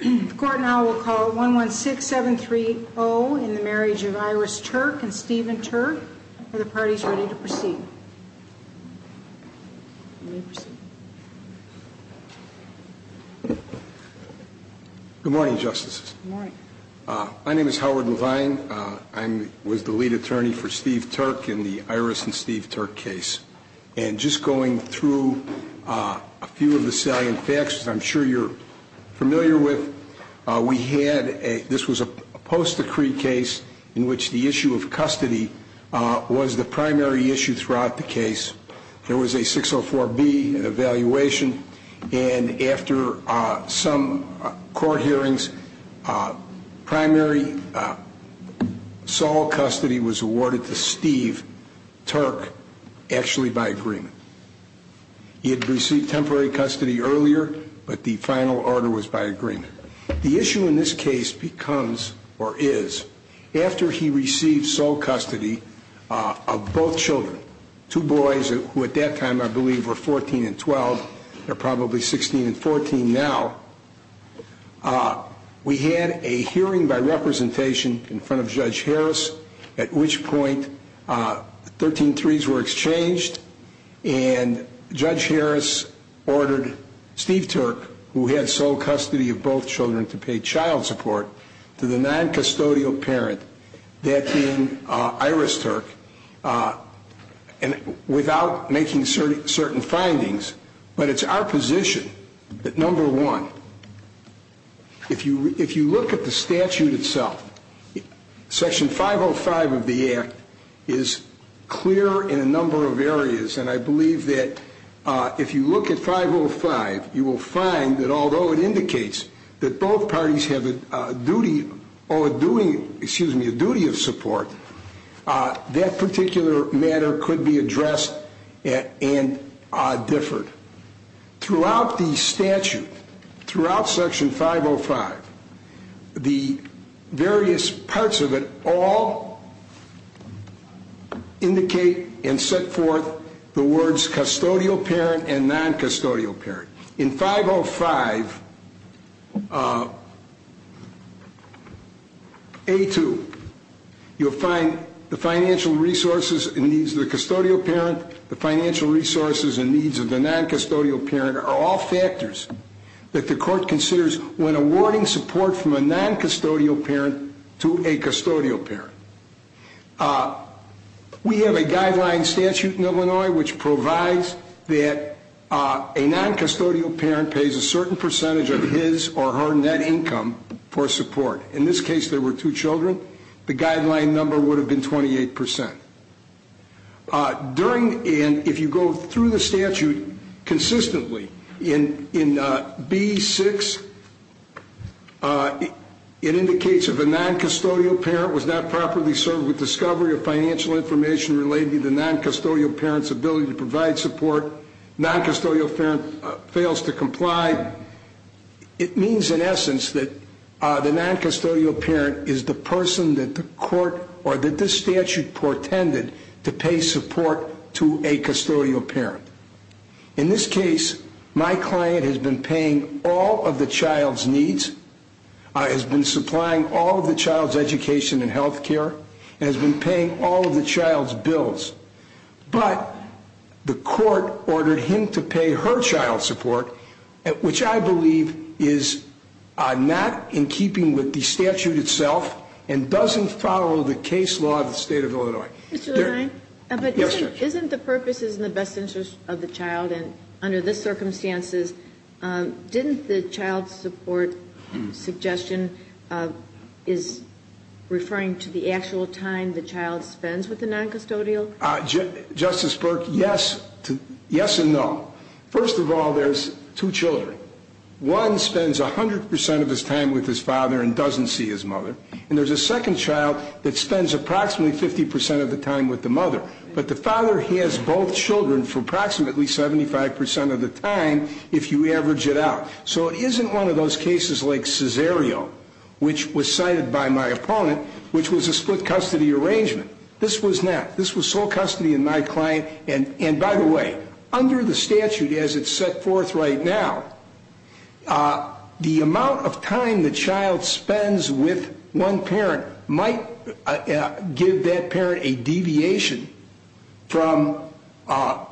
The Court now will call 116730 in the Marriage of Iris Turk and Stephen Turk. Are the parties ready to proceed? Good morning, Justices. Good morning. My name is Howard Levine. I was the lead attorney for Steve Turk in the Iris and Steve Turk case. And just going through a few of the salient facts, which I'm sure you're familiar with, we had a, this was a post-decree case in which the issue of custody was the primary issue throughout the case. There was a 604B, an evaluation, and after some court hearings, primary sole custody was awarded to Steve Turk actually by agreement. He had received temporary custody earlier, but the final order was by agreement. The issue in this case becomes, or is, after he received sole custody of both children, two boys who at that time I believe were 14 and 12, they're probably 16 and 14 now, we had a hearing by representation in front of Judge Harris at which point 13-3s were exchanged and Judge Harris ordered Steve Turk, who had sole custody of both children to pay child support to the non-custodial parent, that being Iris Turk, without making certain findings. But it's our position that number one, if you look at the statute itself, Section 505 of the Act is clear in a number of areas, and I believe that if you look at 505, you will find that although it indicates that both parties have a duty of support, that particular matter could be addressed and differed. Throughout the statute, throughout Section 505, the various parts of it all indicate and set forth the words custodial parent and non-custodial parent. In 505A2, you'll find the financial resources and needs of the custodial parent, the financial resources and needs of the non-custodial parent are all factors that the court considers when awarding support from a non-custodial parent to a custodial parent. We have a guideline statute in Illinois which provides that a non-custodial parent pays a certain percentage of his or her net income for support. In this case, there were two children. The guideline number would have been 28%. During and if you go through the statute consistently, in B6, it indicates if a non-custodial parent was not properly served with discovery of financial information relating to the non-custodial parent's ability to provide support, non-custodial parent fails to comply, it means in essence that the non-custodial parent is the person that the court or that this statute portended to pay support to a custodial parent. In this case, my client has been paying all of the child's needs, has been supplying all of the child's education and health care, and has been paying all of the child's bills. But the court ordered him to pay her child support, which I believe is not in keeping with the statute itself and doesn't follow the case law of the state of Illinois. Mr. Levine? Yes, Judge. Isn't the purpose is in the best interest of the child and under this circumstances, didn't the child support suggestion is referring to the actual time the child spends with the non-custodial? Justice Burke, yes and no. First of all, there's two children. One spends 100% of his time with his father and doesn't see his mother, and there's a second child that spends approximately 50% of the time with the mother, but the father has both children for approximately 75% of the time if you average it out. So it isn't one of those cases like Cesario, which was cited by my opponent, which was a split custody arrangement. This was not. This was sole custody in my client, and by the way, under the statute as it's set forth right now, the amount of time the child spends with one parent might give that parent a deviation from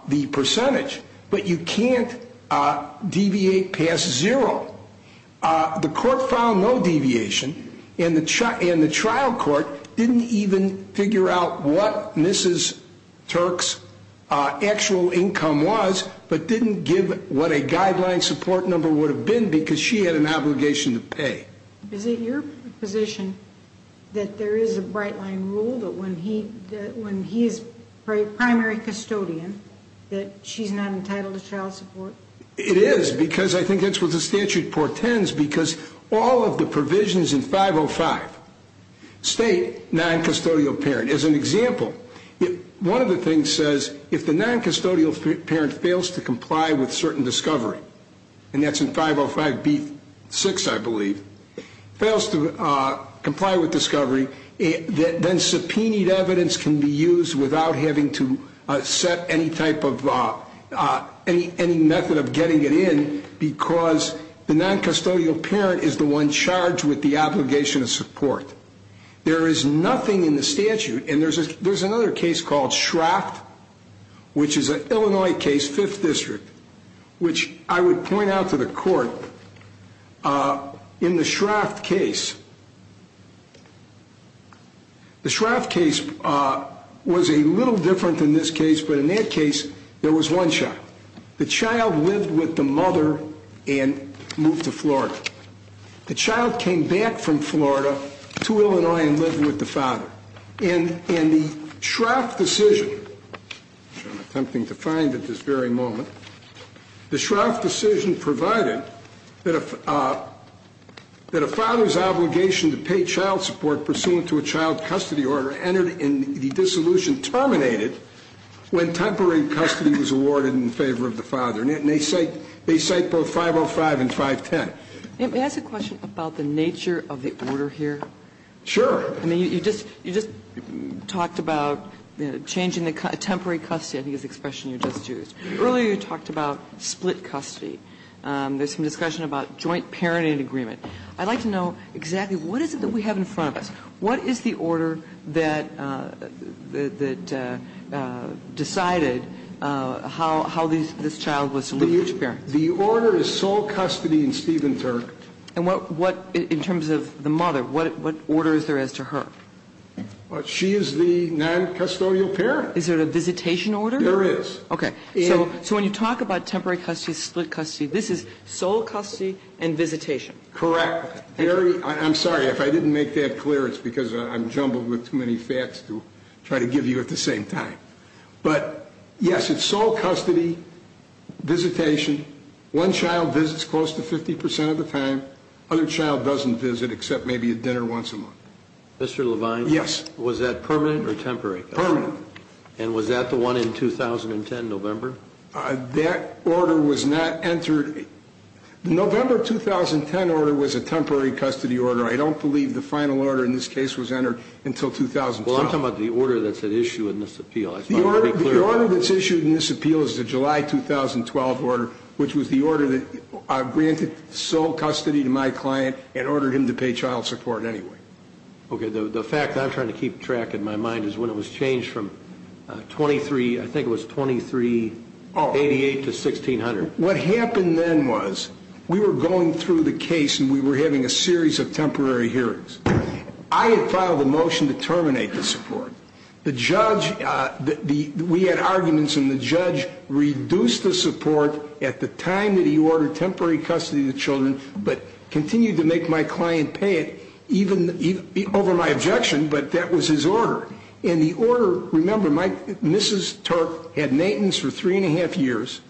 the percentage, but you can't deviate past zero. The court found no deviation, and the trial court didn't even figure out what Mrs. Turk's actual income was but didn't give what a guideline support number would have been because she had an obligation to pay. Is it your position that there is a bright-line rule that when he is a primary custodian that she's not entitled to child support? It is because I think that's what the statute portends because all of the provisions in 505 state non-custodial parent. As an example, one of the things says if the non-custodial parent fails to comply with certain discovery, and that's in 505B6, I believe, fails to comply with discovery, then subpoenaed evidence can be used without having to set any method of getting it in because the non-custodial parent is the one charged with the obligation of support. There is nothing in the statute, and there's another case called Shraft, which is an Illinois case, 5th District, which I would point out to the court in the Shraft case. The Shraft case was a little different than this case, but in that case, there was one shot. The child lived with the mother and moved to Florida. The child came back from Florida to Illinois and lived with the father. In the Shraft decision, which I'm attempting to find at this very moment, the Shraft decision provided that a father's obligation to pay child support pursuant to a child custody order entered in the dissolution terminated when temporary custody was awarded in favor of the father. And they cite both 505 and 510. May I ask a question about the nature of the order here? Sure. I mean, you just talked about changing the temporary custody, I think is the expression you just used. Earlier you talked about split custody. There's some discussion about joint parenting agreement. I'd like to know exactly what is it that we have in front of us? What is the order that decided how this child was to live with its parents? The order is sole custody in Steven Turk. And what, in terms of the mother, what order is there as to her? She is the noncustodial parent. Is there a visitation order? There is. Okay. So when you talk about temporary custody, split custody, this is sole custody and visitation. Correct. I'm sorry if I didn't make that clear. It's because I'm jumbled with too many facts to try to give you at the same time. But, yes, it's sole custody, visitation. One child visits close to 50% of the time. Other child doesn't visit except maybe at dinner once a month. Mr. Levine? Yes. Was that permanent or temporary? Permanent. And was that the one in 2010, November? That order was not entered. The November 2010 order was a temporary custody order. I don't believe the final order in this case was entered until 2012. Well, I'm talking about the order that's at issue in this appeal. The order that's issued in this appeal is the July 2012 order, which was the order that granted sole custody to my client and ordered him to pay child support anyway. Okay. The fact that I'm trying to keep track in my mind is when it was changed from 23, I think it was 2388 to 1600. What happened then was we were going through the case and we were having a series of temporary hearings. I had filed a motion to terminate the support. We had arguments, and the judge reduced the support at the time that he ordered temporary custody of the children but continued to make my client pay it over my objection, but that was his order. And the order, remember, Mrs. Turk had maintenance for three and a half years,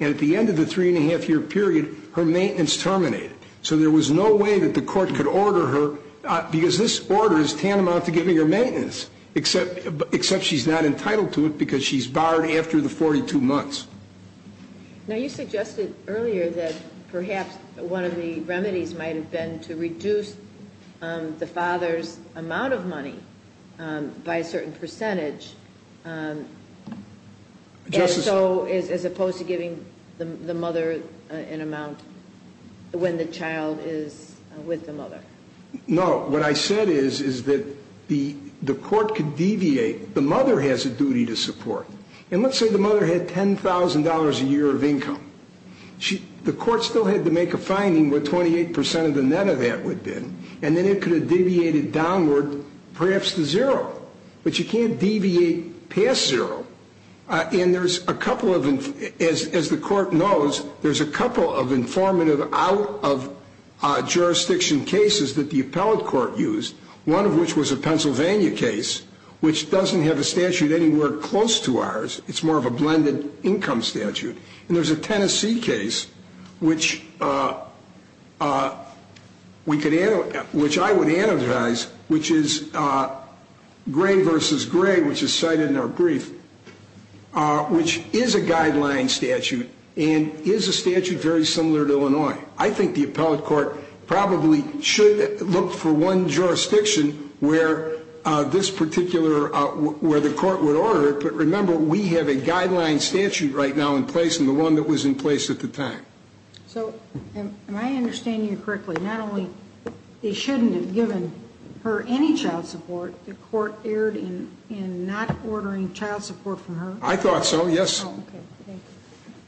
and at the end of the three and a half year period, her maintenance terminated. So there was no way that the court could order her, because this order is tantamount to giving her maintenance, except she's not entitled to it because she's barred after the 42 months. Now, you suggested earlier that perhaps one of the remedies might have been to reduce the father's amount of money by a certain percentage. And so as opposed to giving the mother an amount when the child is with the mother. No. What I said is that the court could deviate. The mother has a duty to support. And let's say the mother had $10,000 a year of income. The court still had to make a finding where 28 percent of the net of that would have been, and then it could have deviated downward, perhaps to zero. But you can't deviate past zero. And there's a couple of, as the court knows, there's a couple of informative out-of-jurisdiction cases that the appellate court used, one of which was a Pennsylvania case, which doesn't have a statute anywhere close to ours. It's more of a blended income statute. And there's a Tennessee case, which I would analyze, which is Gray v. Gray, which is cited in our brief, which is a guideline statute and is a statute very similar to Illinois. I think the appellate court probably should look for one jurisdiction where this particular, where the court would order it. But remember, we have a guideline statute right now in place and the one that was in place at the time. So am I understanding you correctly? Not only they shouldn't have given her any child support, the court erred in not ordering child support from her? I thought so, yes. Oh, okay.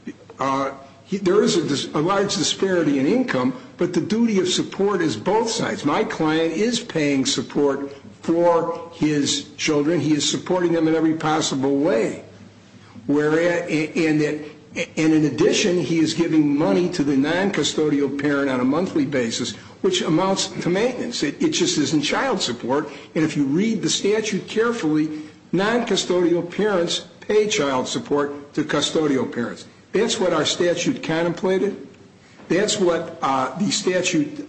Thank you. There is a large disparity in income, but the duty of support is both sides. My client is paying support for his children. He is supporting them in every possible way. And in addition, he is giving money to the noncustodial parent on a monthly basis, which amounts to maintenance. It just isn't child support. And if you read the statute carefully, noncustodial parents pay child support to custodial parents. That's what our statute contemplated. That's what the statute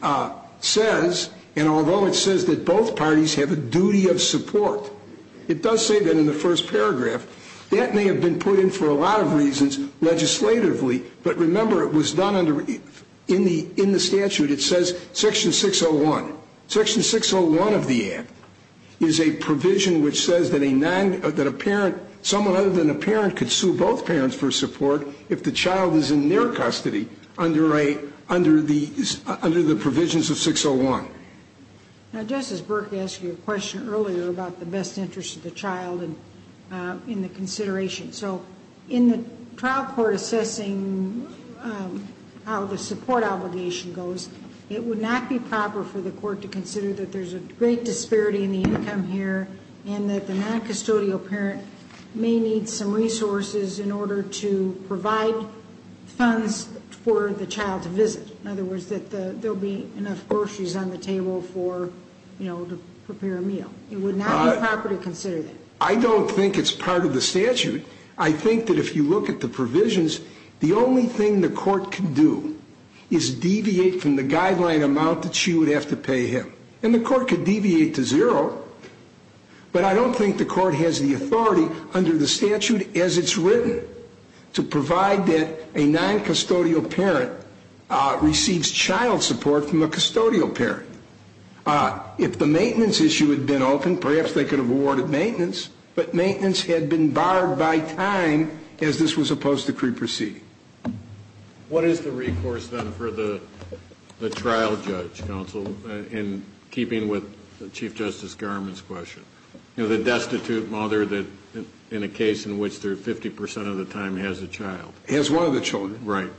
says. And although it says that both parties have a duty of support, it does say that in the first paragraph. That may have been put in for a lot of reasons legislatively. But remember, it was done in the statute. It says Section 601. Section 601 of the Act is a provision which says that a parent, someone other than a parent, could sue both parents for support if the child is in their custody under the provisions of 601. Now, Justice Burke asked you a question earlier about the best interest of the child in the consideration. So in the trial court assessing how the support obligation goes, it would not be proper for the court to consider that there's a great disparity in the income here and that the noncustodial parent may need some resources in order to provide funds for the child to visit. In other words, that there will be enough groceries on the table for, you know, to prepare a meal. It would not be proper to consider that. I don't think it's part of the statute. I think that if you look at the provisions, the only thing the court can do is deviate from the guideline amount that she would have to pay him. And the court could deviate to zero, but I don't think the court has the authority under the statute as it's written to provide that a noncustodial parent receives child support from a custodial parent. If the maintenance issue had been open, perhaps they could have awarded maintenance, but maintenance had been barred by time as this was supposed to pre-proceed. What is the recourse then for the trial judge, counsel, in keeping with Chief Justice Garment's question? You know, the destitute mother that in a case in which they're 50 percent of the time has a child. Has one of the children. Right.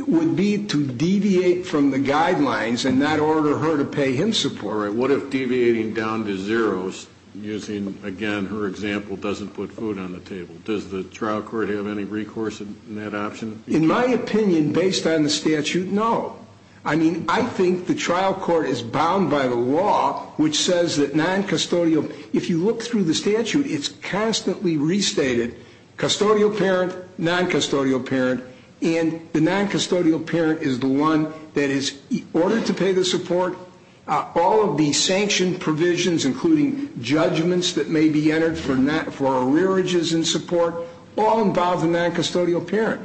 It would be to deviate from the guidelines in that order for her to pay him support. All right. What if deviating down to zeros, using, again, her example, doesn't put food on the table? Does the trial court have any recourse in that option? In my opinion, based on the statute, no. I mean, I think the trial court is bound by the law, which says that noncustodial. If you look through the statute, it's constantly restated. Custodial parent, noncustodial parent. And the noncustodial parent is the one that is ordered to pay the support. All of the sanctioned provisions, including judgments that may be entered for arrearages and support, all involve the noncustodial parent.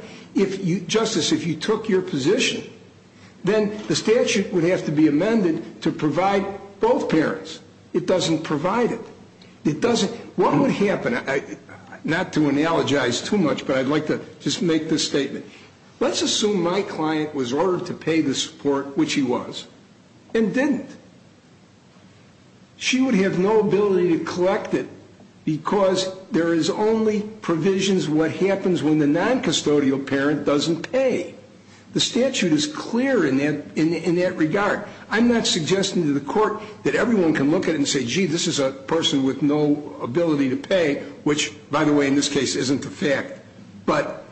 Justice, if you took your position, then the statute would have to be amended to provide both parents. It doesn't provide it. It doesn't. What would happen? Not to analogize too much, but I'd like to just make this statement. Let's assume my client was ordered to pay the support, which he was, and didn't. She would have no ability to collect it because there is only provisions what happens when the noncustodial parent doesn't pay. The statute is clear in that regard. I'm not suggesting to the Court that everyone can look at it and say, gee, this is a person with no ability to pay, which, by the way, in this case, isn't the fact. But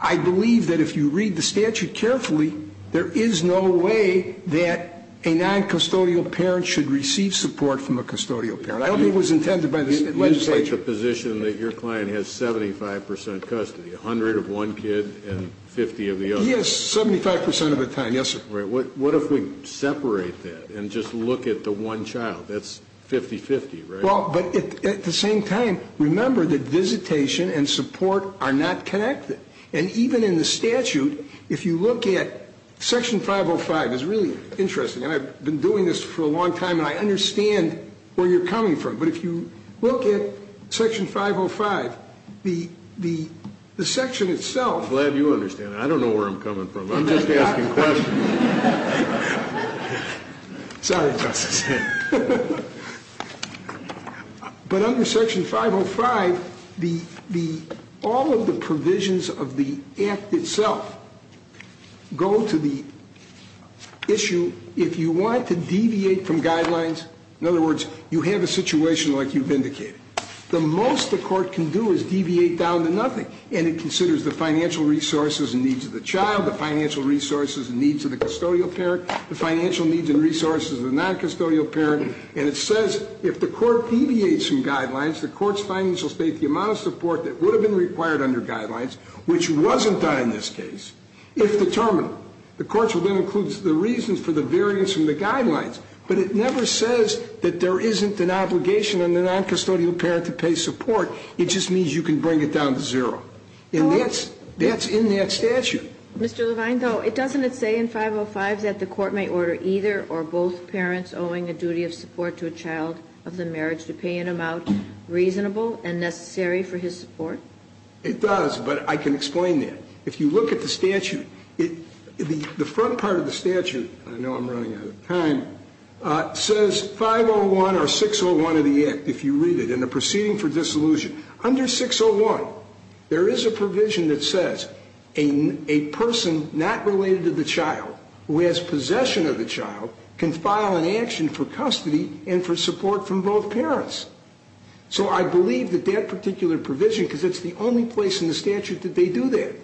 I believe that if you read the statute carefully, there is no way that a noncustodial parent should receive support from a custodial parent. I don't think it was intended by the legislature. You take the position that your client has 75 percent custody, 100 of one kid and 50 of the other. Yes, 75 percent of the time, yes, sir. Right. What if we separate that and just look at the one child? That's 50-50, right? Well, but at the same time, remember that visitation and support are not connected. And even in the statute, if you look at Section 505, it's really interesting. And I've been doing this for a long time, and I understand where you're coming from. But if you look at Section 505, the section itself — I'm glad you understand. I don't know where I'm coming from. I'm just asking questions. Sorry, Justice. But under Section 505, all of the provisions of the act itself go to the issue if you want to deviate from guidelines. In other words, you have a situation like you've indicated. The most the court can do is deviate down to nothing. And it considers the financial resources and needs of the child, the financial resources and needs of the custodial parent, the financial needs and resources of the noncustodial parent. And it says if the court deviates from guidelines, the court's financial state, the amount of support that would have been required under guidelines, which wasn't done in this case, if determined, the court will then include the reasons for the variance in the guidelines. But it never says that there isn't an obligation on the noncustodial parent to pay support. It just means you can bring it down to zero. And that's in that statute. Mr. Levine, though, it doesn't say in 505 that the court may order either or both parents owing a duty of support to a child of the marriage to pay an amount reasonable and necessary for his support? It does, but I can explain that. If you look at the statute, the front part of the statute, I know I'm running out of time, says 501 or 601 of the Act, if you read it, in the proceeding for dissolution. Under 601, there is a provision that says a person not related to the child who has possession of the child can file an action for custody and for support from both parents. So I believe that that particular provision, because it's the only place in the statute that they do that,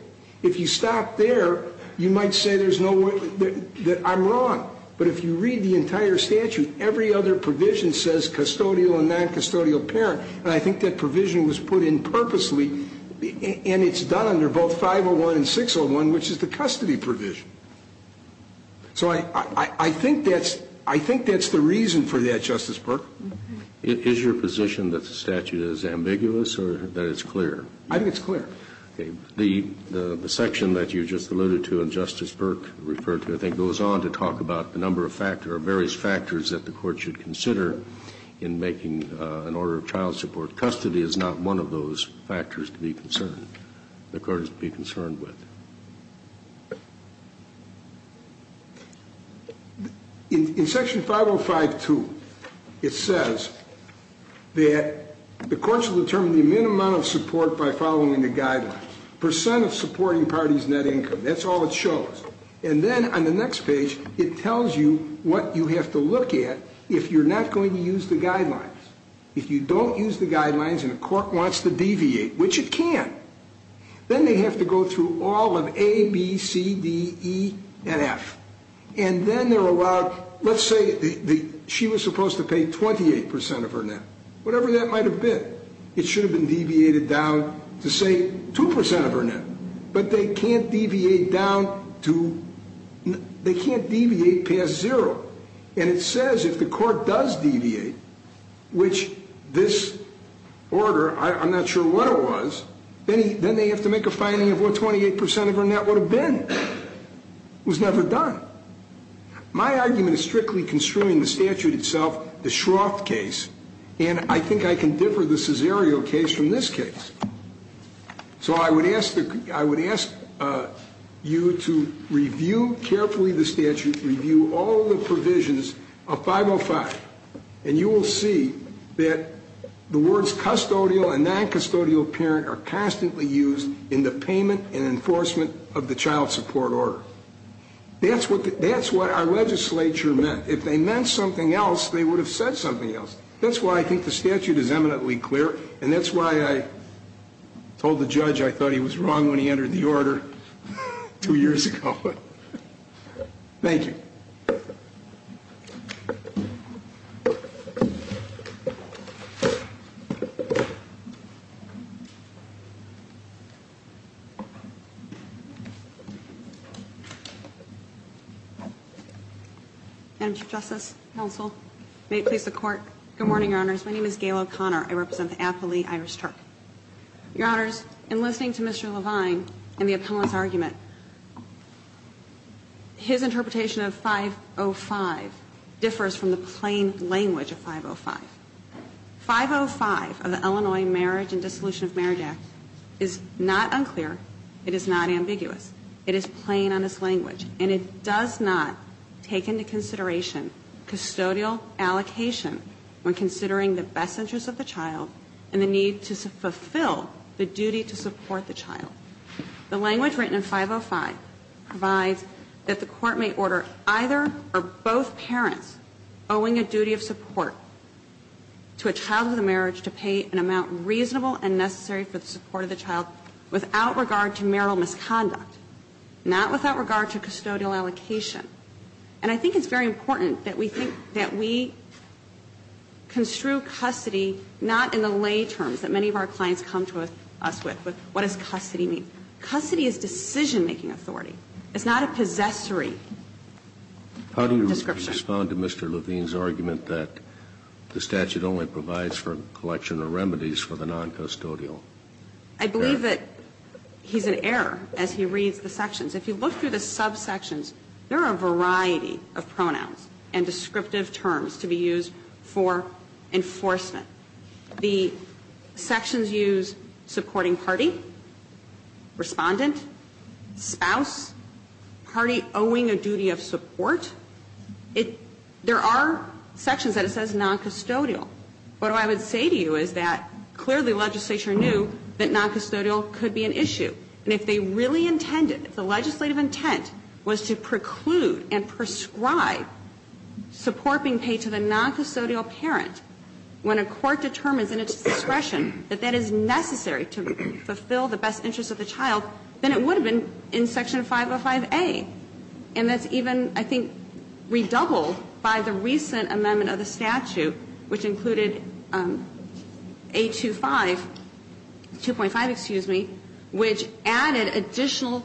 if you stop there, you might say there's no way that I'm wrong. But if you read the entire statute, every other provision says custodial and noncustodial parent, and I think that provision was put in purposely, and it's done under both 501 and 601, which is the custody provision. So I think that's the reason for that, Justice Burke. Is your position that the statute is ambiguous or that it's clear? I think it's clear. The section that you just alluded to and Justice Burke referred to, I think, goes on to talk about the number of factors or various factors that the Court should consider in making an order of child support custody is not one of those factors to be concerned, the Court is to be concerned with. In Section 505.2, it says that the courts will determine the minimum amount of support by following the guidelines, percent of supporting parties' net income, that's all it shows. And then on the next page, it tells you what you have to look at if you're not going to use the guidelines. If you don't use the guidelines and the Court wants to deviate, which it can, then they have to go through all of A, B, C, D, E, and F. And then they're allowed, let's say she was supposed to pay 28% of her net, whatever that might have been. It should have been deviated down to, say, 2% of her net. But they can't deviate down to, they can't deviate past zero. And it says if the Court does deviate, which this order, I'm not sure what it was, then they have to make a finding of what 28% of her net would have been. It was never done. My argument is strictly construing the statute itself, the Shroff case, and I think I can differ the Cesario case from this case. So I would ask you to review carefully the statute, review all the provisions of 505, and you will see that the words custodial and noncustodial parent are constantly used in the payment and enforcement of the child support order. That's what our legislature meant. If they meant something else, they would have said something else. That's why I think the statute is eminently clear, and that's why I told the judge I thought he was wrong when he entered the order two years ago. Thank you. Ms. O'Connor. Madam Chief Justice, counsel, may it please the Court, good morning, Your Honors. My name is Gail O'Connor. I represent the aptly Irish Turk. Your Honors, in listening to Mr. Levine and the appellant's argument, his interpretation of 505 differs from the plain language of 505. 505 of the Illinois Marriage and Dissolution of Marriage Act is not unclear. It is not ambiguous. It is plain on its language, and it does not take into consideration custodial allocation when considering the best interests of the child and the need to fulfill the duty to support the child. The language written in 505 provides that the Court may order either or both parents owing a duty of support to a child with a marriage to pay an amount reasonable and necessary for the support of the child without regard to marital misconduct, not without regard to custodial allocation. And I think it's very important that we think that we construe custody not in the lay terms that many of our clients come to us with. What does custody mean? Custody is decision-making authority. It's not a possessory description. How do you respond to Mr. Levine's argument that the statute only provides for collection of remedies for the noncustodial? I believe that he's in error as he reads the sections. If you look through the subsections, there are a variety of pronouns and descriptive terms to be used for enforcement. The sections use supporting party, respondent, spouse, party owing a duty of support. It – there are sections that it says noncustodial. What I would say to you is that clearly legislature knew that noncustodial could be an issue. And if they really intended, if the legislative intent was to preclude and prescribe support being paid to the noncustodial parent, when a court determines in its discretion that that is necessary to fulfill the best interests of the child, then it would have been in Section 505a. And that's even, I think, redoubled by the recent amendment of the statute, which included 825 – 2.5, excuse me, which added additional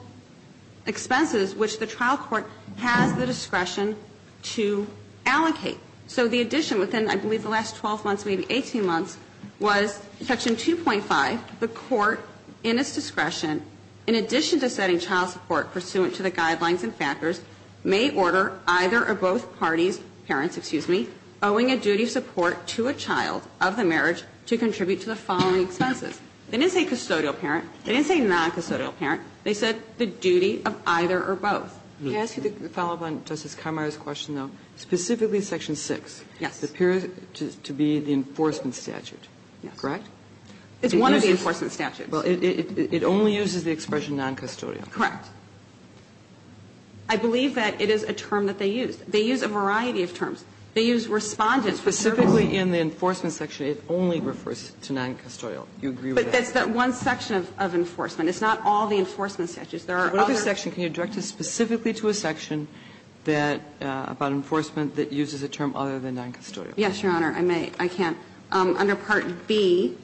expenses, which the trial court has the discretion to allocate. So the addition within, I believe, the last 12 months, maybe 18 months, was Section 2.5, the court in its discretion, in addition to setting child support pursuant to the guidelines and factors, may order either or both parties, parents, excuse me, owing a duty of support to a child of the marriage to contribute to the following expenses. They didn't say custodial parent. They didn't say noncustodial parent. They said the duty of either or both. Kagan. I ask you a follow-up on Justice Khamar's question, though. Specifically, Section 6 appears to be the enforcement statute, correct? It's one of the enforcement statutes. Well, it only uses the expression noncustodial. Correct. I believe that it is a term that they used. They used a variety of terms. They used respondent for service. Specifically, in the enforcement section, it only refers to noncustodial. You agree with that? But that's that one section of enforcement. It's not all the enforcement statutes. There are other. What other section? Can you direct us specifically to a section that, about enforcement that uses a term other than noncustodial? Yes, Your Honor. I may. I can. Under Part B,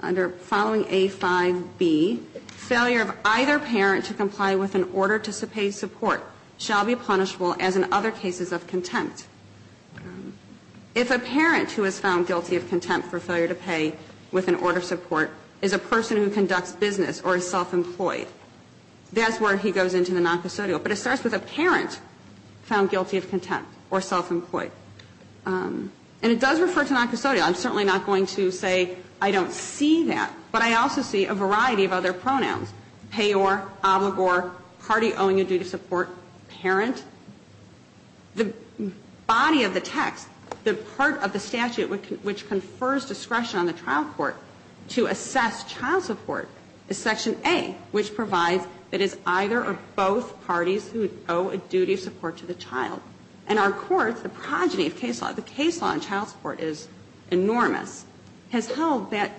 under following A5B, failure of either parent to comply with an order to pay support shall be punishable as in other cases of contempt. If a parent who is found guilty of contempt for failure to pay with an order of support is a person who conducts business or is self-employed, that's where he goes into the noncustodial. But it starts with a parent found guilty of contempt or self-employed. And it does refer to noncustodial. I'm certainly not going to say I don't see that, but I also see a variety of other pronouns, payor, obligor, party owing a duty of support, parent. The body of the text, the part of the statute which confers discretion on the trial of child support to assess child support is Section A, which provides that it's either or both parties who owe a duty of support to the child. And our courts, the progeny of case law, the case law on child support is enormous, has held that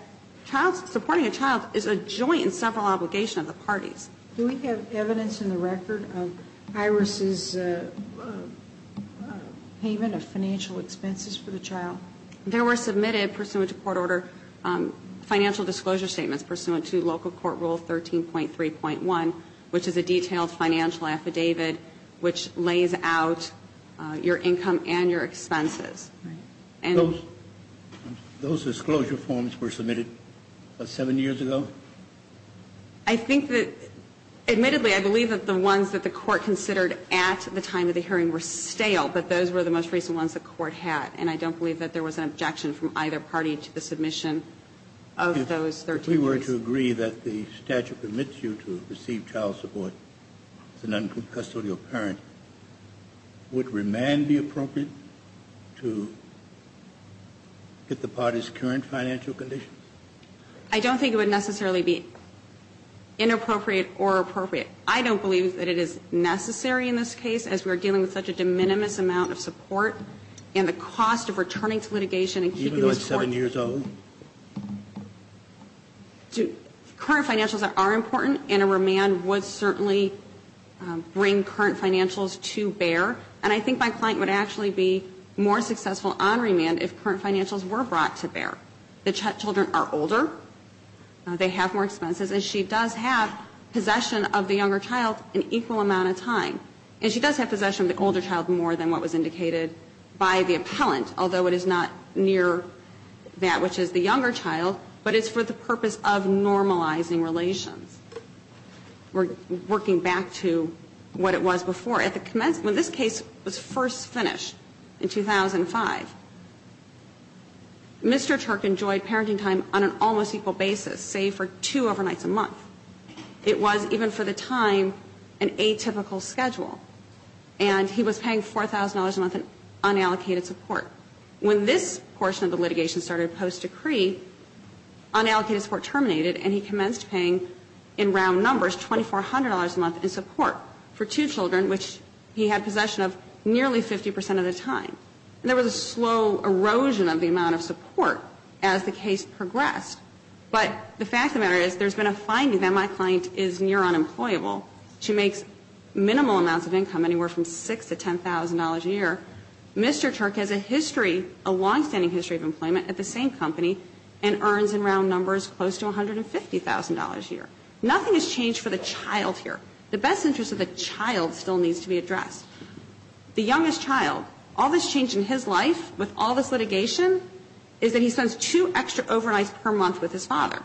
supporting a child is a joint and several obligation of the parties. Do we have evidence in the record of Iris' payment of financial expenses for the child? There were submitted, pursuant to court order, financial disclosure statements pursuant to local court rule 13.3.1, which is a detailed financial affidavit which lays out your income and your expenses. Those disclosure forms were submitted about seven years ago? I think that, admittedly, I believe that the ones that the court considered at the time of the hearing were stale, but those were the most recent ones the court had, and I don't believe that there was an objection from either party to the submission of those 13 cases. If we were to agree that the statute permits you to receive child support as an uncustodial parent, would remand be appropriate to get the party's current financial conditions? I don't think it would necessarily be inappropriate or appropriate. I don't believe that it is necessary in this case, as we are dealing with such a de minimis amount of support and the cost of returning to litigation and keeping the support. Even though it's seven years old? Current financials are important, and a remand would certainly bring current financials to bear. And I think my client would actually be more successful on remand if current financials were brought to bear. The children are older, they have more expenses, and she does have possession of the younger child an equal amount of time. And she does have possession of the older child more than what was indicated by the appellant, although it is not near that which is the younger child, but it's for the purpose of normalizing relations. We're working back to what it was before. When this case was first finished in 2005, Mr. Turk enjoyed parenting time on an almost equal basis, save for two overnights a month. It was, even for the time, an atypical schedule. And he was paying $4,000 a month in unallocated support. When this portion of the litigation started post-decree, unallocated support terminated and he commenced paying, in round numbers, $2,400 a month in support for two children, which he had possession of nearly 50 percent of the time. And there was a slow erosion of the amount of support as the case progressed. But the fact of the matter is there's been a finding that my client is near unemployable. She makes minimal amounts of income, anywhere from $6,000 to $10,000 a year. Mr. Turk has a history, a longstanding history of employment at the same company and earns, in round numbers, close to $150,000 a year. Nothing has changed for the child here. The best interest of the child still needs to be addressed. The youngest child, all that's changed in his life with all this litigation is that he spends two extra overnights per month with his father.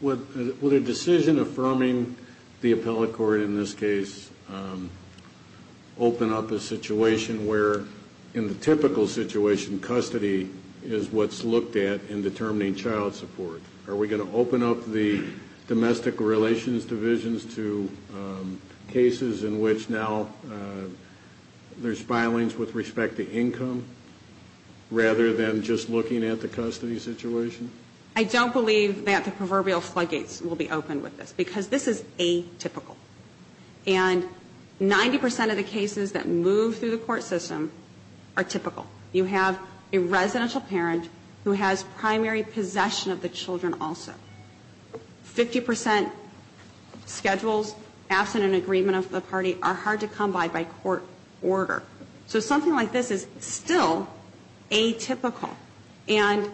Would a decision affirming the appellate court, in this case, open up a situation where, in the typical situation, custody is what's looked at in determining child support? Are we going to open up the domestic relations divisions to cases in which now there's filings with respect to income rather than just looking at the custody situation? I don't believe that the proverbial floodgates will be open with this because this is atypical. And 90% of the cases that move through the court system are typical. You have a residential parent who has primary possession of the children also. 50% schedules absent an agreement of the party are hard to come by by court order. So something like this is still atypical. And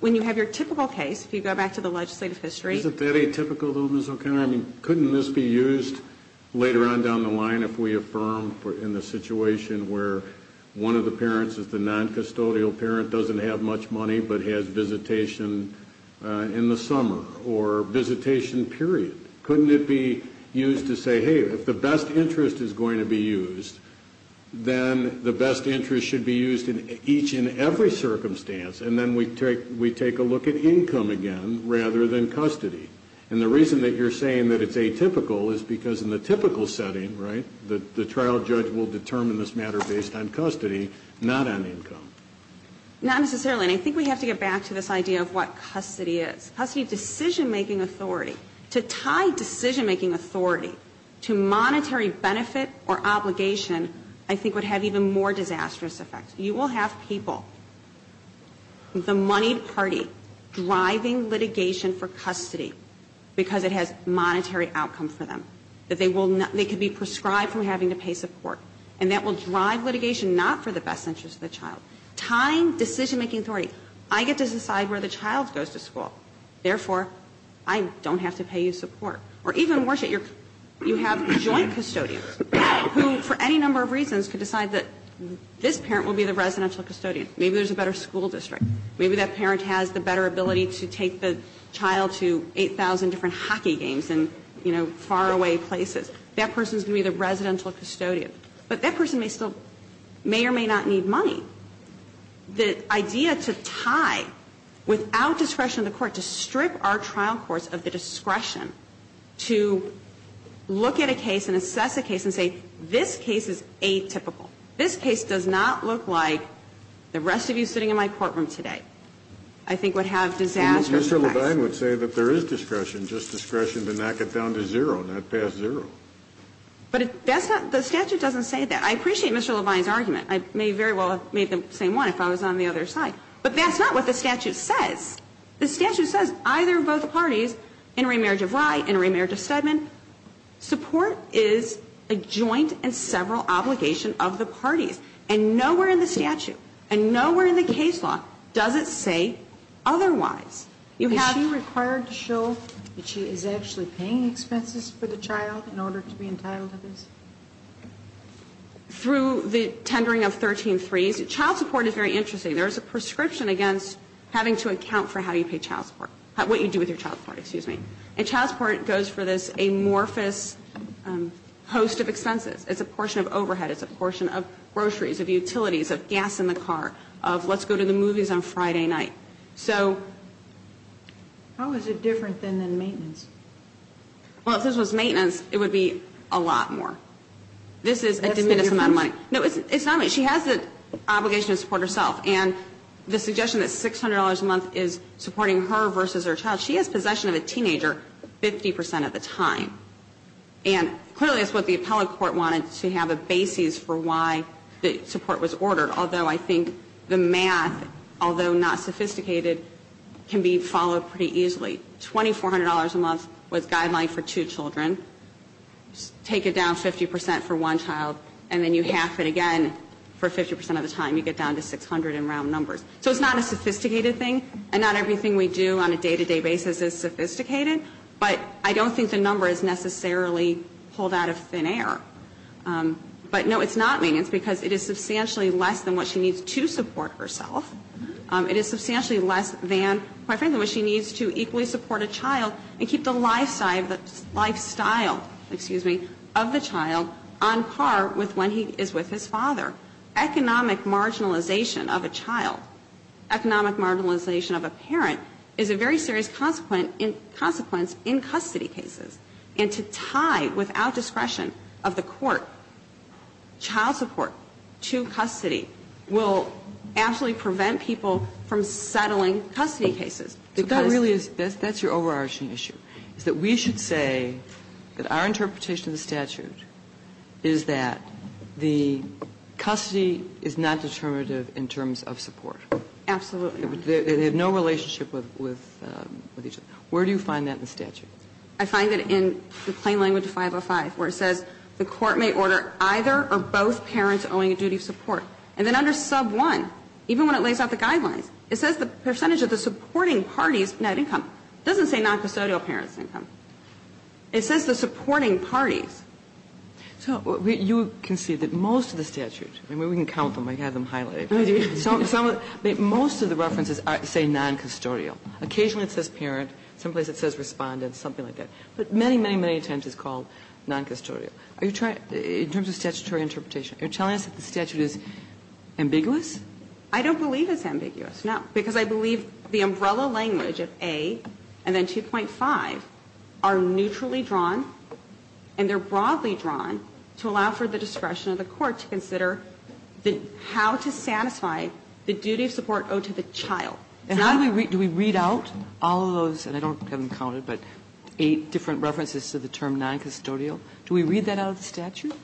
when you have your typical case, if you go back to the legislative history. Isn't that atypical, though, Ms. O'Connor? Couldn't this be used later on down the line if we affirm in the situation where one of the parents is the noncustodial parent, doesn't have much money, but has visitation in the summer or visitation period? Couldn't it be used to say, hey, if the best interest is going to be used, then the best interest should be used in each and every circumstance, and then we take a look at income again rather than custody? And the reason that you're saying that it's atypical is because in the typical setting, right, the trial judge will determine this matter based on custody, not on income. Not necessarily. And I think we have to get back to this idea of what custody is. Custody is decision-making authority. To tie decision-making authority to monetary benefit or obligation I think would have even more disastrous effects. You will have people, the moneyed party, driving litigation for custody because it has monetary outcome for them, that they will not be prescribed from having to pay support. And that will drive litigation not for the best interest of the child. Tying decision-making authority. I get to decide where the child goes to school. Therefore, I don't have to pay you support. Or even worse, you have joint custodians who for any number of reasons could decide that this parent will be the residential custodian. Maybe there's a better school district. Maybe that parent has the better ability to take the child to 8,000 different hockey games in, you know, faraway places. That person is going to be the residential custodian. But that person may still, may or may not need money. The idea to tie without discretion of the court, to strip our trial courts of the discretion to look at a case and assess a case and say this case is atypical, this case does not look like the rest of you sitting in my courtroom today, I think would have disastrous effects. And Mr. Levine would say that there is discretion, just discretion to knock it down to zero, not past zero. But that's not, the statute doesn't say that. I appreciate Mr. Levine's argument. I may very well have made the same one if I was on the other side. But that's not what the statute says. The statute says either of both parties, intermarriage of Rye, intermarriage of Steadman, support is a joint and several obligation of the parties. And nowhere in the statute and nowhere in the case law does it say otherwise. You have to show that she is actually paying expenses for the child in order to be entitled to this? Through the tendering of 13-3s. Child support is very interesting. There is a prescription against having to account for how you pay child support, what you do with your child support, excuse me. And child support goes for this amorphous host of expenses. It's a portion of overhead. It's a portion of groceries, of utilities, of gas in the car, of let's go to the movies on Friday night. So. How is it different than maintenance? Well, if this was maintenance, it would be a lot more. This is a diminutive amount of money. No, it's not. She has the obligation to support herself. And the suggestion that $600 a month is supporting her versus her child, she has possession of a teenager 50 percent of the time. And clearly that's what the appellate court wanted to have a basis for why the support was ordered, although I think the math, although not sophisticated, can be followed pretty easily. $2,400 a month was guideline for two children. Take it down 50 percent for one child. And then you half it again for 50 percent of the time. You get down to 600 in round numbers. So it's not a sophisticated thing. And not everything we do on a day-to-day basis is sophisticated. But I don't think the number is necessarily pulled out of thin air. But, no, it's not maintenance because it is substantially less than what she needs to support herself. It is substantially less than, quite frankly, what she needs to equally support a child and keep the lifestyle of the child on par with when he is with his father. Economic marginalization of a child, economic marginalization of a parent is a very serious consequence in custody cases. And to tie without discretion of the court child support to custody will absolutely prevent people from settling custody cases. Because that's your overarching issue, is that we should say that our interpretation of the statute is that the custody is not determinative in terms of support. Absolutely not. They have no relationship with each other. Where do you find that in the statute? I find it in the plain language 505, where it says the court may order either or both parents owing a duty of support. And then under sub 1, even when it lays out the guidelines, it says the percentage of the supporting parties net income. It doesn't say noncustodial parents' income. It says the supporting parties. So you can see that most of the statute, and we can count them, I have them highlighted. Most of the references say noncustodial. Occasionally it says parent. Some places it says respondent, something like that. But many, many, many times it's called noncustodial. Are you trying, in terms of statutory interpretation, are you telling us that the statute is ambiguous? I don't believe it's ambiguous, no. Because I believe the umbrella language of A and then 2.5 are neutrally drawn, and they're broadly drawn to allow for the discretion of the court to consider how to satisfy the duty of support owed to the child. And do we read out all of those, and I don't have them counted, but eight different references to the term noncustodial? Do we read that out of the statute?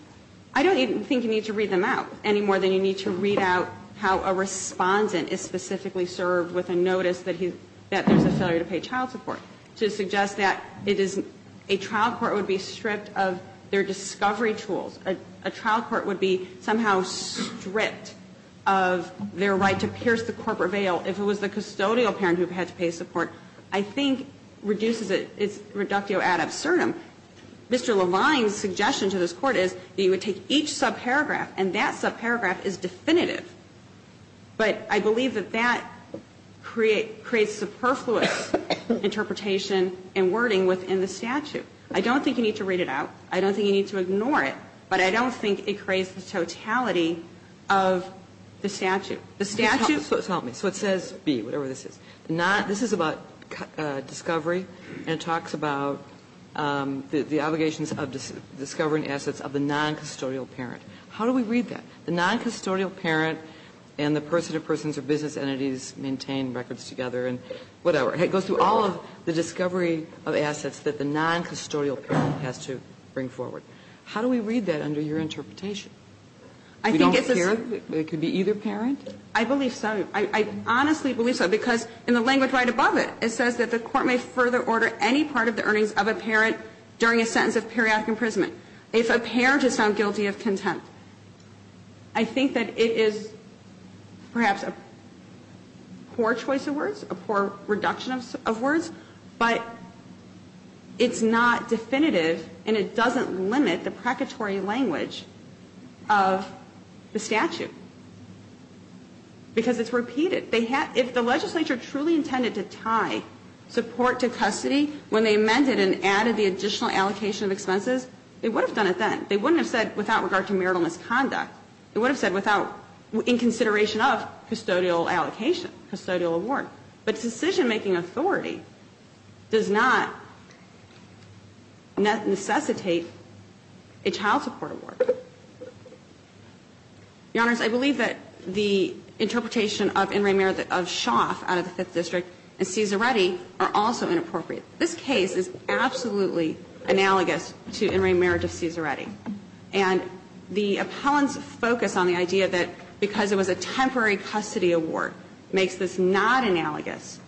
I don't think you need to read them out any more than you need to read out how a respondent is specifically served with a notice that there's a failure to pay child support. To suggest that a trial court would be stripped of their discovery tools, a trial court would be somehow stripped of their right to pierce the corporate veil if it was the custodial parent who had to pay support, I think reduces it. It's reductio ad absurdum. Mr. Levine's suggestion to this Court is that you would take each subparagraph and that subparagraph is definitive, but I believe that that creates superfluous interpretation and wording within the statute. I don't think you need to read it out. I don't think you need to ignore it, but I don't think it creates the totality of the statute. The statute's. So help me. So it says B, whatever this is. This is about discovery and it talks about the obligations of discovering assets of the noncustodial parent. How do we read that? The noncustodial parent and the person to persons or business entities maintain records together and whatever. It goes through all of the discovery of assets that the noncustodial parent has to bring forward. How do we read that under your interpretation? We don't care that it could be either parent? I believe so. I honestly believe so because in the language right above it, it says that the court may further order any part of the earnings of a parent during a sentence of periodic imprisonment. If a parent is found guilty of contempt, I think that it is perhaps a poor choice of words, a poor reduction of words, but it's not definitive and it doesn't limit the precatory language of the statute because it's repeated. If the legislature truly intended to tie support to custody when they amended and added the additional allocation of expenses, they would have done it then. They wouldn't have said without regard to marital misconduct. They would have said without in consideration of custodial allocation, custodial award. But decision-making authority does not necessitate a child support award. Your Honors, I believe that the interpretation of in re merit of Schaaf out of the Fifth District and Cesaretti are also inappropriate. This case is absolutely analogous to in re merit of Cesaretti. And the appellant's focus on the idea that because it was a temporary custody award makes this not analogous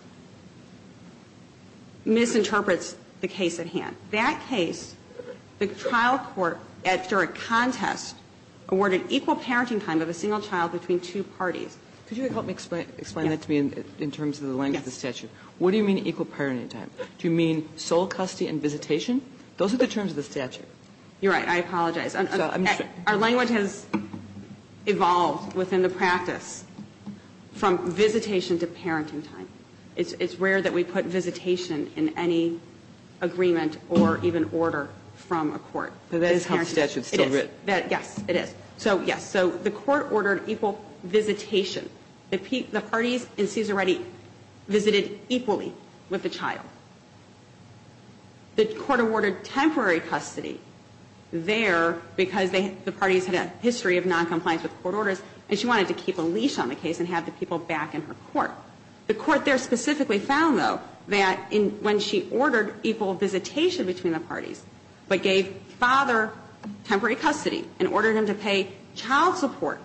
misinterprets the case at hand. That case, the trial court, after a contest, awarded equal parenting time of a single child between two parties. Could you help me explain that to me in terms of the language of the statute? Yes. What do you mean equal parenting time? Do you mean sole custody and visitation? Those are the terms of the statute. You're right. I apologize. Our language has evolved within the practice. From visitation to parenting time. It's rare that we put visitation in any agreement or even order from a court. But that is how the statute is still written. Yes, it is. So, yes. So the court ordered equal visitation. The parties in Cesaretti visited equally with the child. The court awarded temporary custody there because the parties had a history of noncompliance with court orders and she wanted to keep a leash on the case and have the people back in her court. The court there specifically found, though, that when she ordered equal visitation between the parties but gave father temporary custody and ordered him to pay child support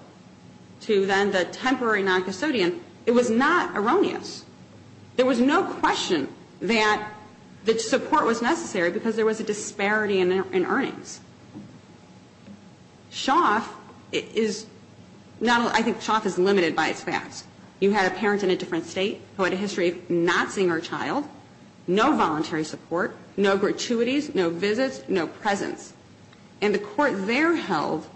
to then the temporary noncustodian, it was not erroneous. There was no question that support was necessary because there was a disparity in earnings. Schaff is not a ñ I think Schaff is limited by its facts. You had a parent in a different state who had a history of not seeing her child, no voluntary support, no gratuities, no visits, no presents. And the court there held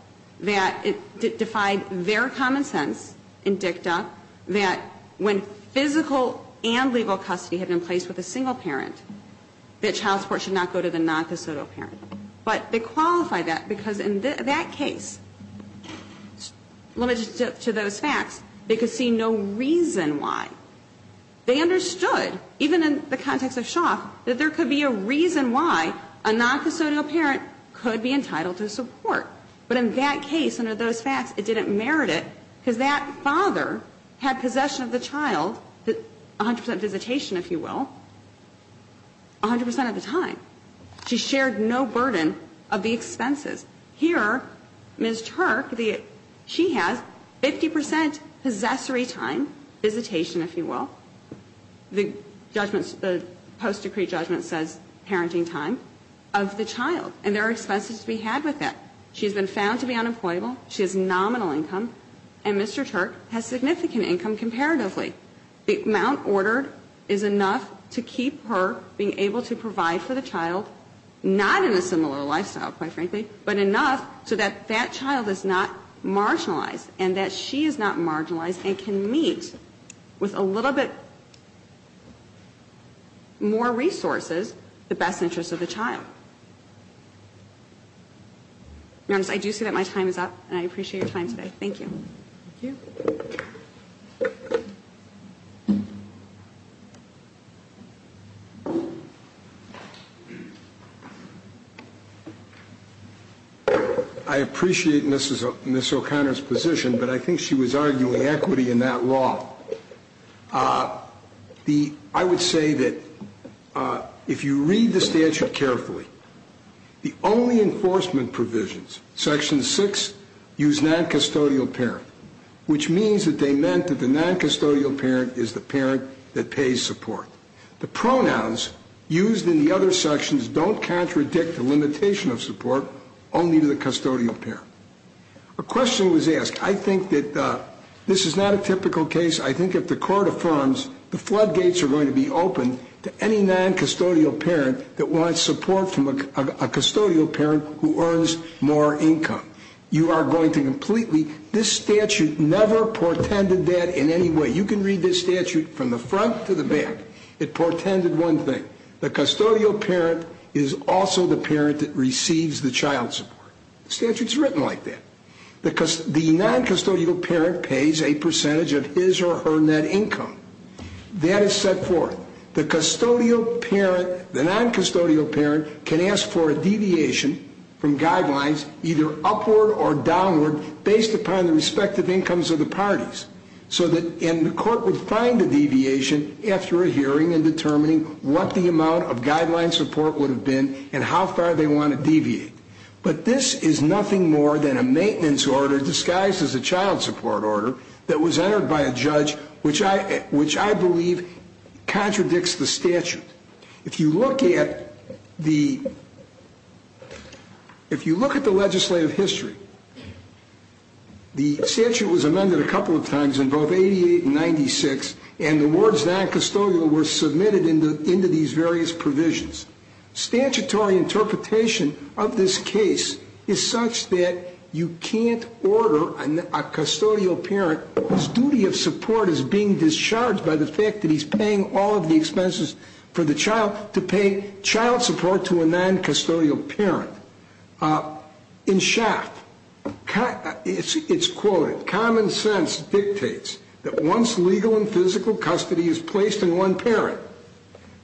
that it defied their common sense in dicta that when physical and legal custody had been placed with a single parent, that child support should not go to the noncustodial parent. But they qualified that because in that case, limited to those facts, they could see no reason why. They understood, even in the context of Schaff, that there could be a reason why a noncustodial parent could be entitled to support. But in that case, under those facts, it didn't merit it because that father had possession of the child, 100 percent visitation, if you will, 100 percent of the time. She shared no burden of the expenses. Here, Ms. Turk, the ñ she has 50 percent possessory time, visitation, if you will, the judgments ñ the post-decree judgment says parenting time, of the child. And there are expenses to be had with that. She has been found to be unemployable. She has nominal income. And Mr. Turk has significant income comparatively. The amount ordered is enough to keep her being able to provide for the child, not in a similar lifestyle, quite frankly, but enough so that that child is not marginalized and that she is not marginalized and can meet with a little bit more resources the best interests of the child. I do see that my time is up, and I appreciate your time today. Thank you. Thank you. I appreciate Ms. O'Connor's position, but I think she was arguing equity in that law. The ñ I would say that if you read the statute carefully, the only enforcement provisions, Section 6, use noncustodial parent, which means that they meant that the noncustodial parent is the parent that pays support. The pronouns used in the other sections don't contradict the limitation of support only to the custodial parent. A question was asked. I think that this is not a typical case. I think if the court affirms the floodgates are going to be open to any noncustodial parent that wants support from a custodial parent who earns more income, you are going to completely ñ this statute never portended that in any way. You can read this statute from the front to the back. It portended one thing. The custodial parent is also the parent that receives the child support. The statute is written like that. The noncustodial parent pays a percentage of his or her net income. That is set forth. The custodial parent, the noncustodial parent, can ask for a deviation from guidelines either upward or downward based upon the respective incomes of the parties. And the court would find the deviation after a hearing and determining what the amount of guideline support would have been and how far they want to deviate. But this is nothing more than a maintenance order disguised as a child support order that was entered by a judge, which I believe contradicts the statute. If you look at the ñ if you look at the legislative history, the statute was amended a couple of times in both í88 and í96, and the words noncustodial were submitted into these various provisions. Statutory interpretation of this case is such that you canít order a custodial parent whose duty of support is being discharged by the fact that heís paying all of the expenses for the child to pay child support to a noncustodial parent. In Shaft, itís quoted, ìCommon sense dictates that once legal and physical custody is placed in one parent,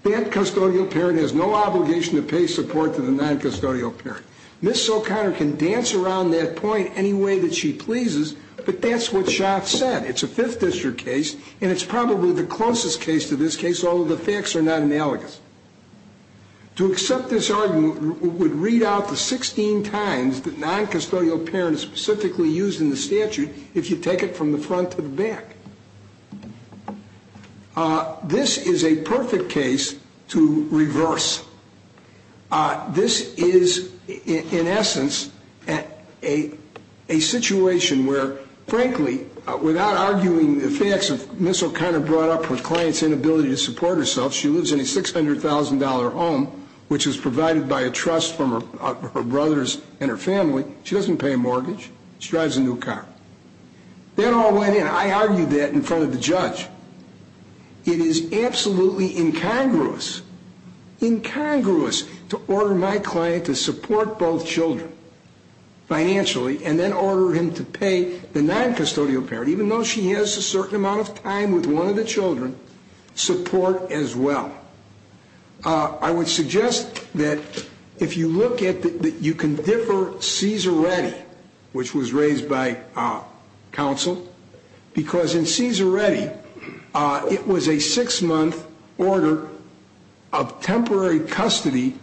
that custodial parent has no obligation to pay support to the noncustodial parent.î Ms. OíConnor can dance around that point any way that she pleases, but thatís what Shaft said. Itís a Fifth District case, and itís probably the closest case to this case, although the facts are not analogous. To accept this argument would read out the 16 times that noncustodial parent is specifically used in the statute if you take it from the front to the back. This is a perfect case to reverse. This is, in essence, a situation where, frankly, without arguing the facts, Ms. OíConnor brought up her clientís inability to support herself. She lives in a $600,000 home, which is provided by a trust from her brothers and her family. She doesnít pay a mortgage. She drives a new car. That all went in. I argued that in front of the judge. It is absolutely incongruous, incongruous, to order my client to support both children financially and then order him to pay the noncustodial parent, even though she has a certain amount of time with one of the children, support as well. I would suggest that if you look at that you can differ Cesar Reddy, which was raised by counsel, because in Cesar Reddy it was a six-month order of temporary custody,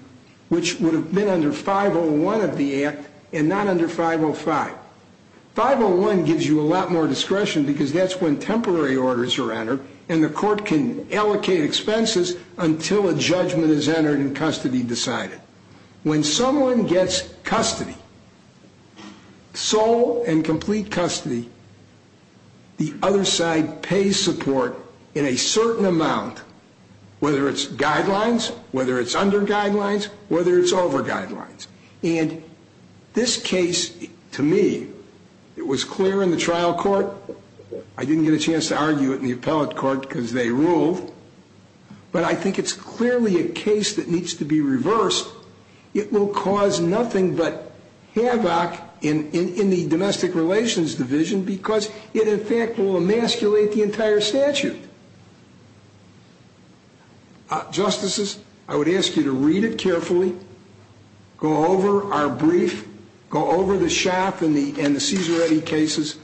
which would have been under 501 of the Act and not under 505. 501 gives you a lot more discretion because thatís when temporary orders are entered and the court can allocate expenses until a judgment is entered and custody decided. When someone gets custody, sole and complete custody, the other side pays support in a certain amount, whether itís guidelines, whether itís under guidelines, whether itís over guidelines. And this case, to me, it was clear in the trial court. I didnít get a chance to argue it in the appellate court because they ruled, but I think itís clearly a case that needs to be reversed. It will cause nothing but havoc in the domestic relations division because it in fact will emasculate the entire statute. Justices, I would ask you to read it carefully, go over our brief, go over the Schaff and the Cesar Reddy cases.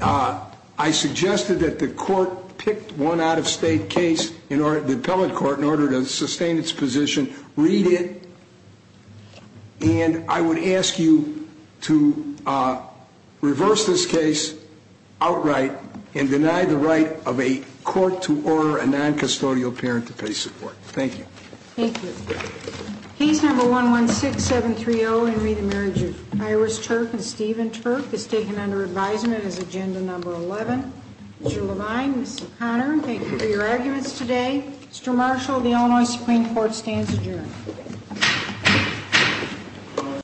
I suggested that the court pick one out-of-state case, the appellate court, in order to sustain its position. Read it, and I would ask you to reverse this case outright and deny the right of a court to order a noncustodial parent to pay support. Thank you. Thank you. Case No. 116730, Henry, the Marriage of Iris Turk and Stephen Turk, is taken under advisement as Agenda No. 11. Mr. Levine, Ms. OíConnor, thank you for your arguments today. Mr. Marshall, the Illinois Supreme Court stands adjourned.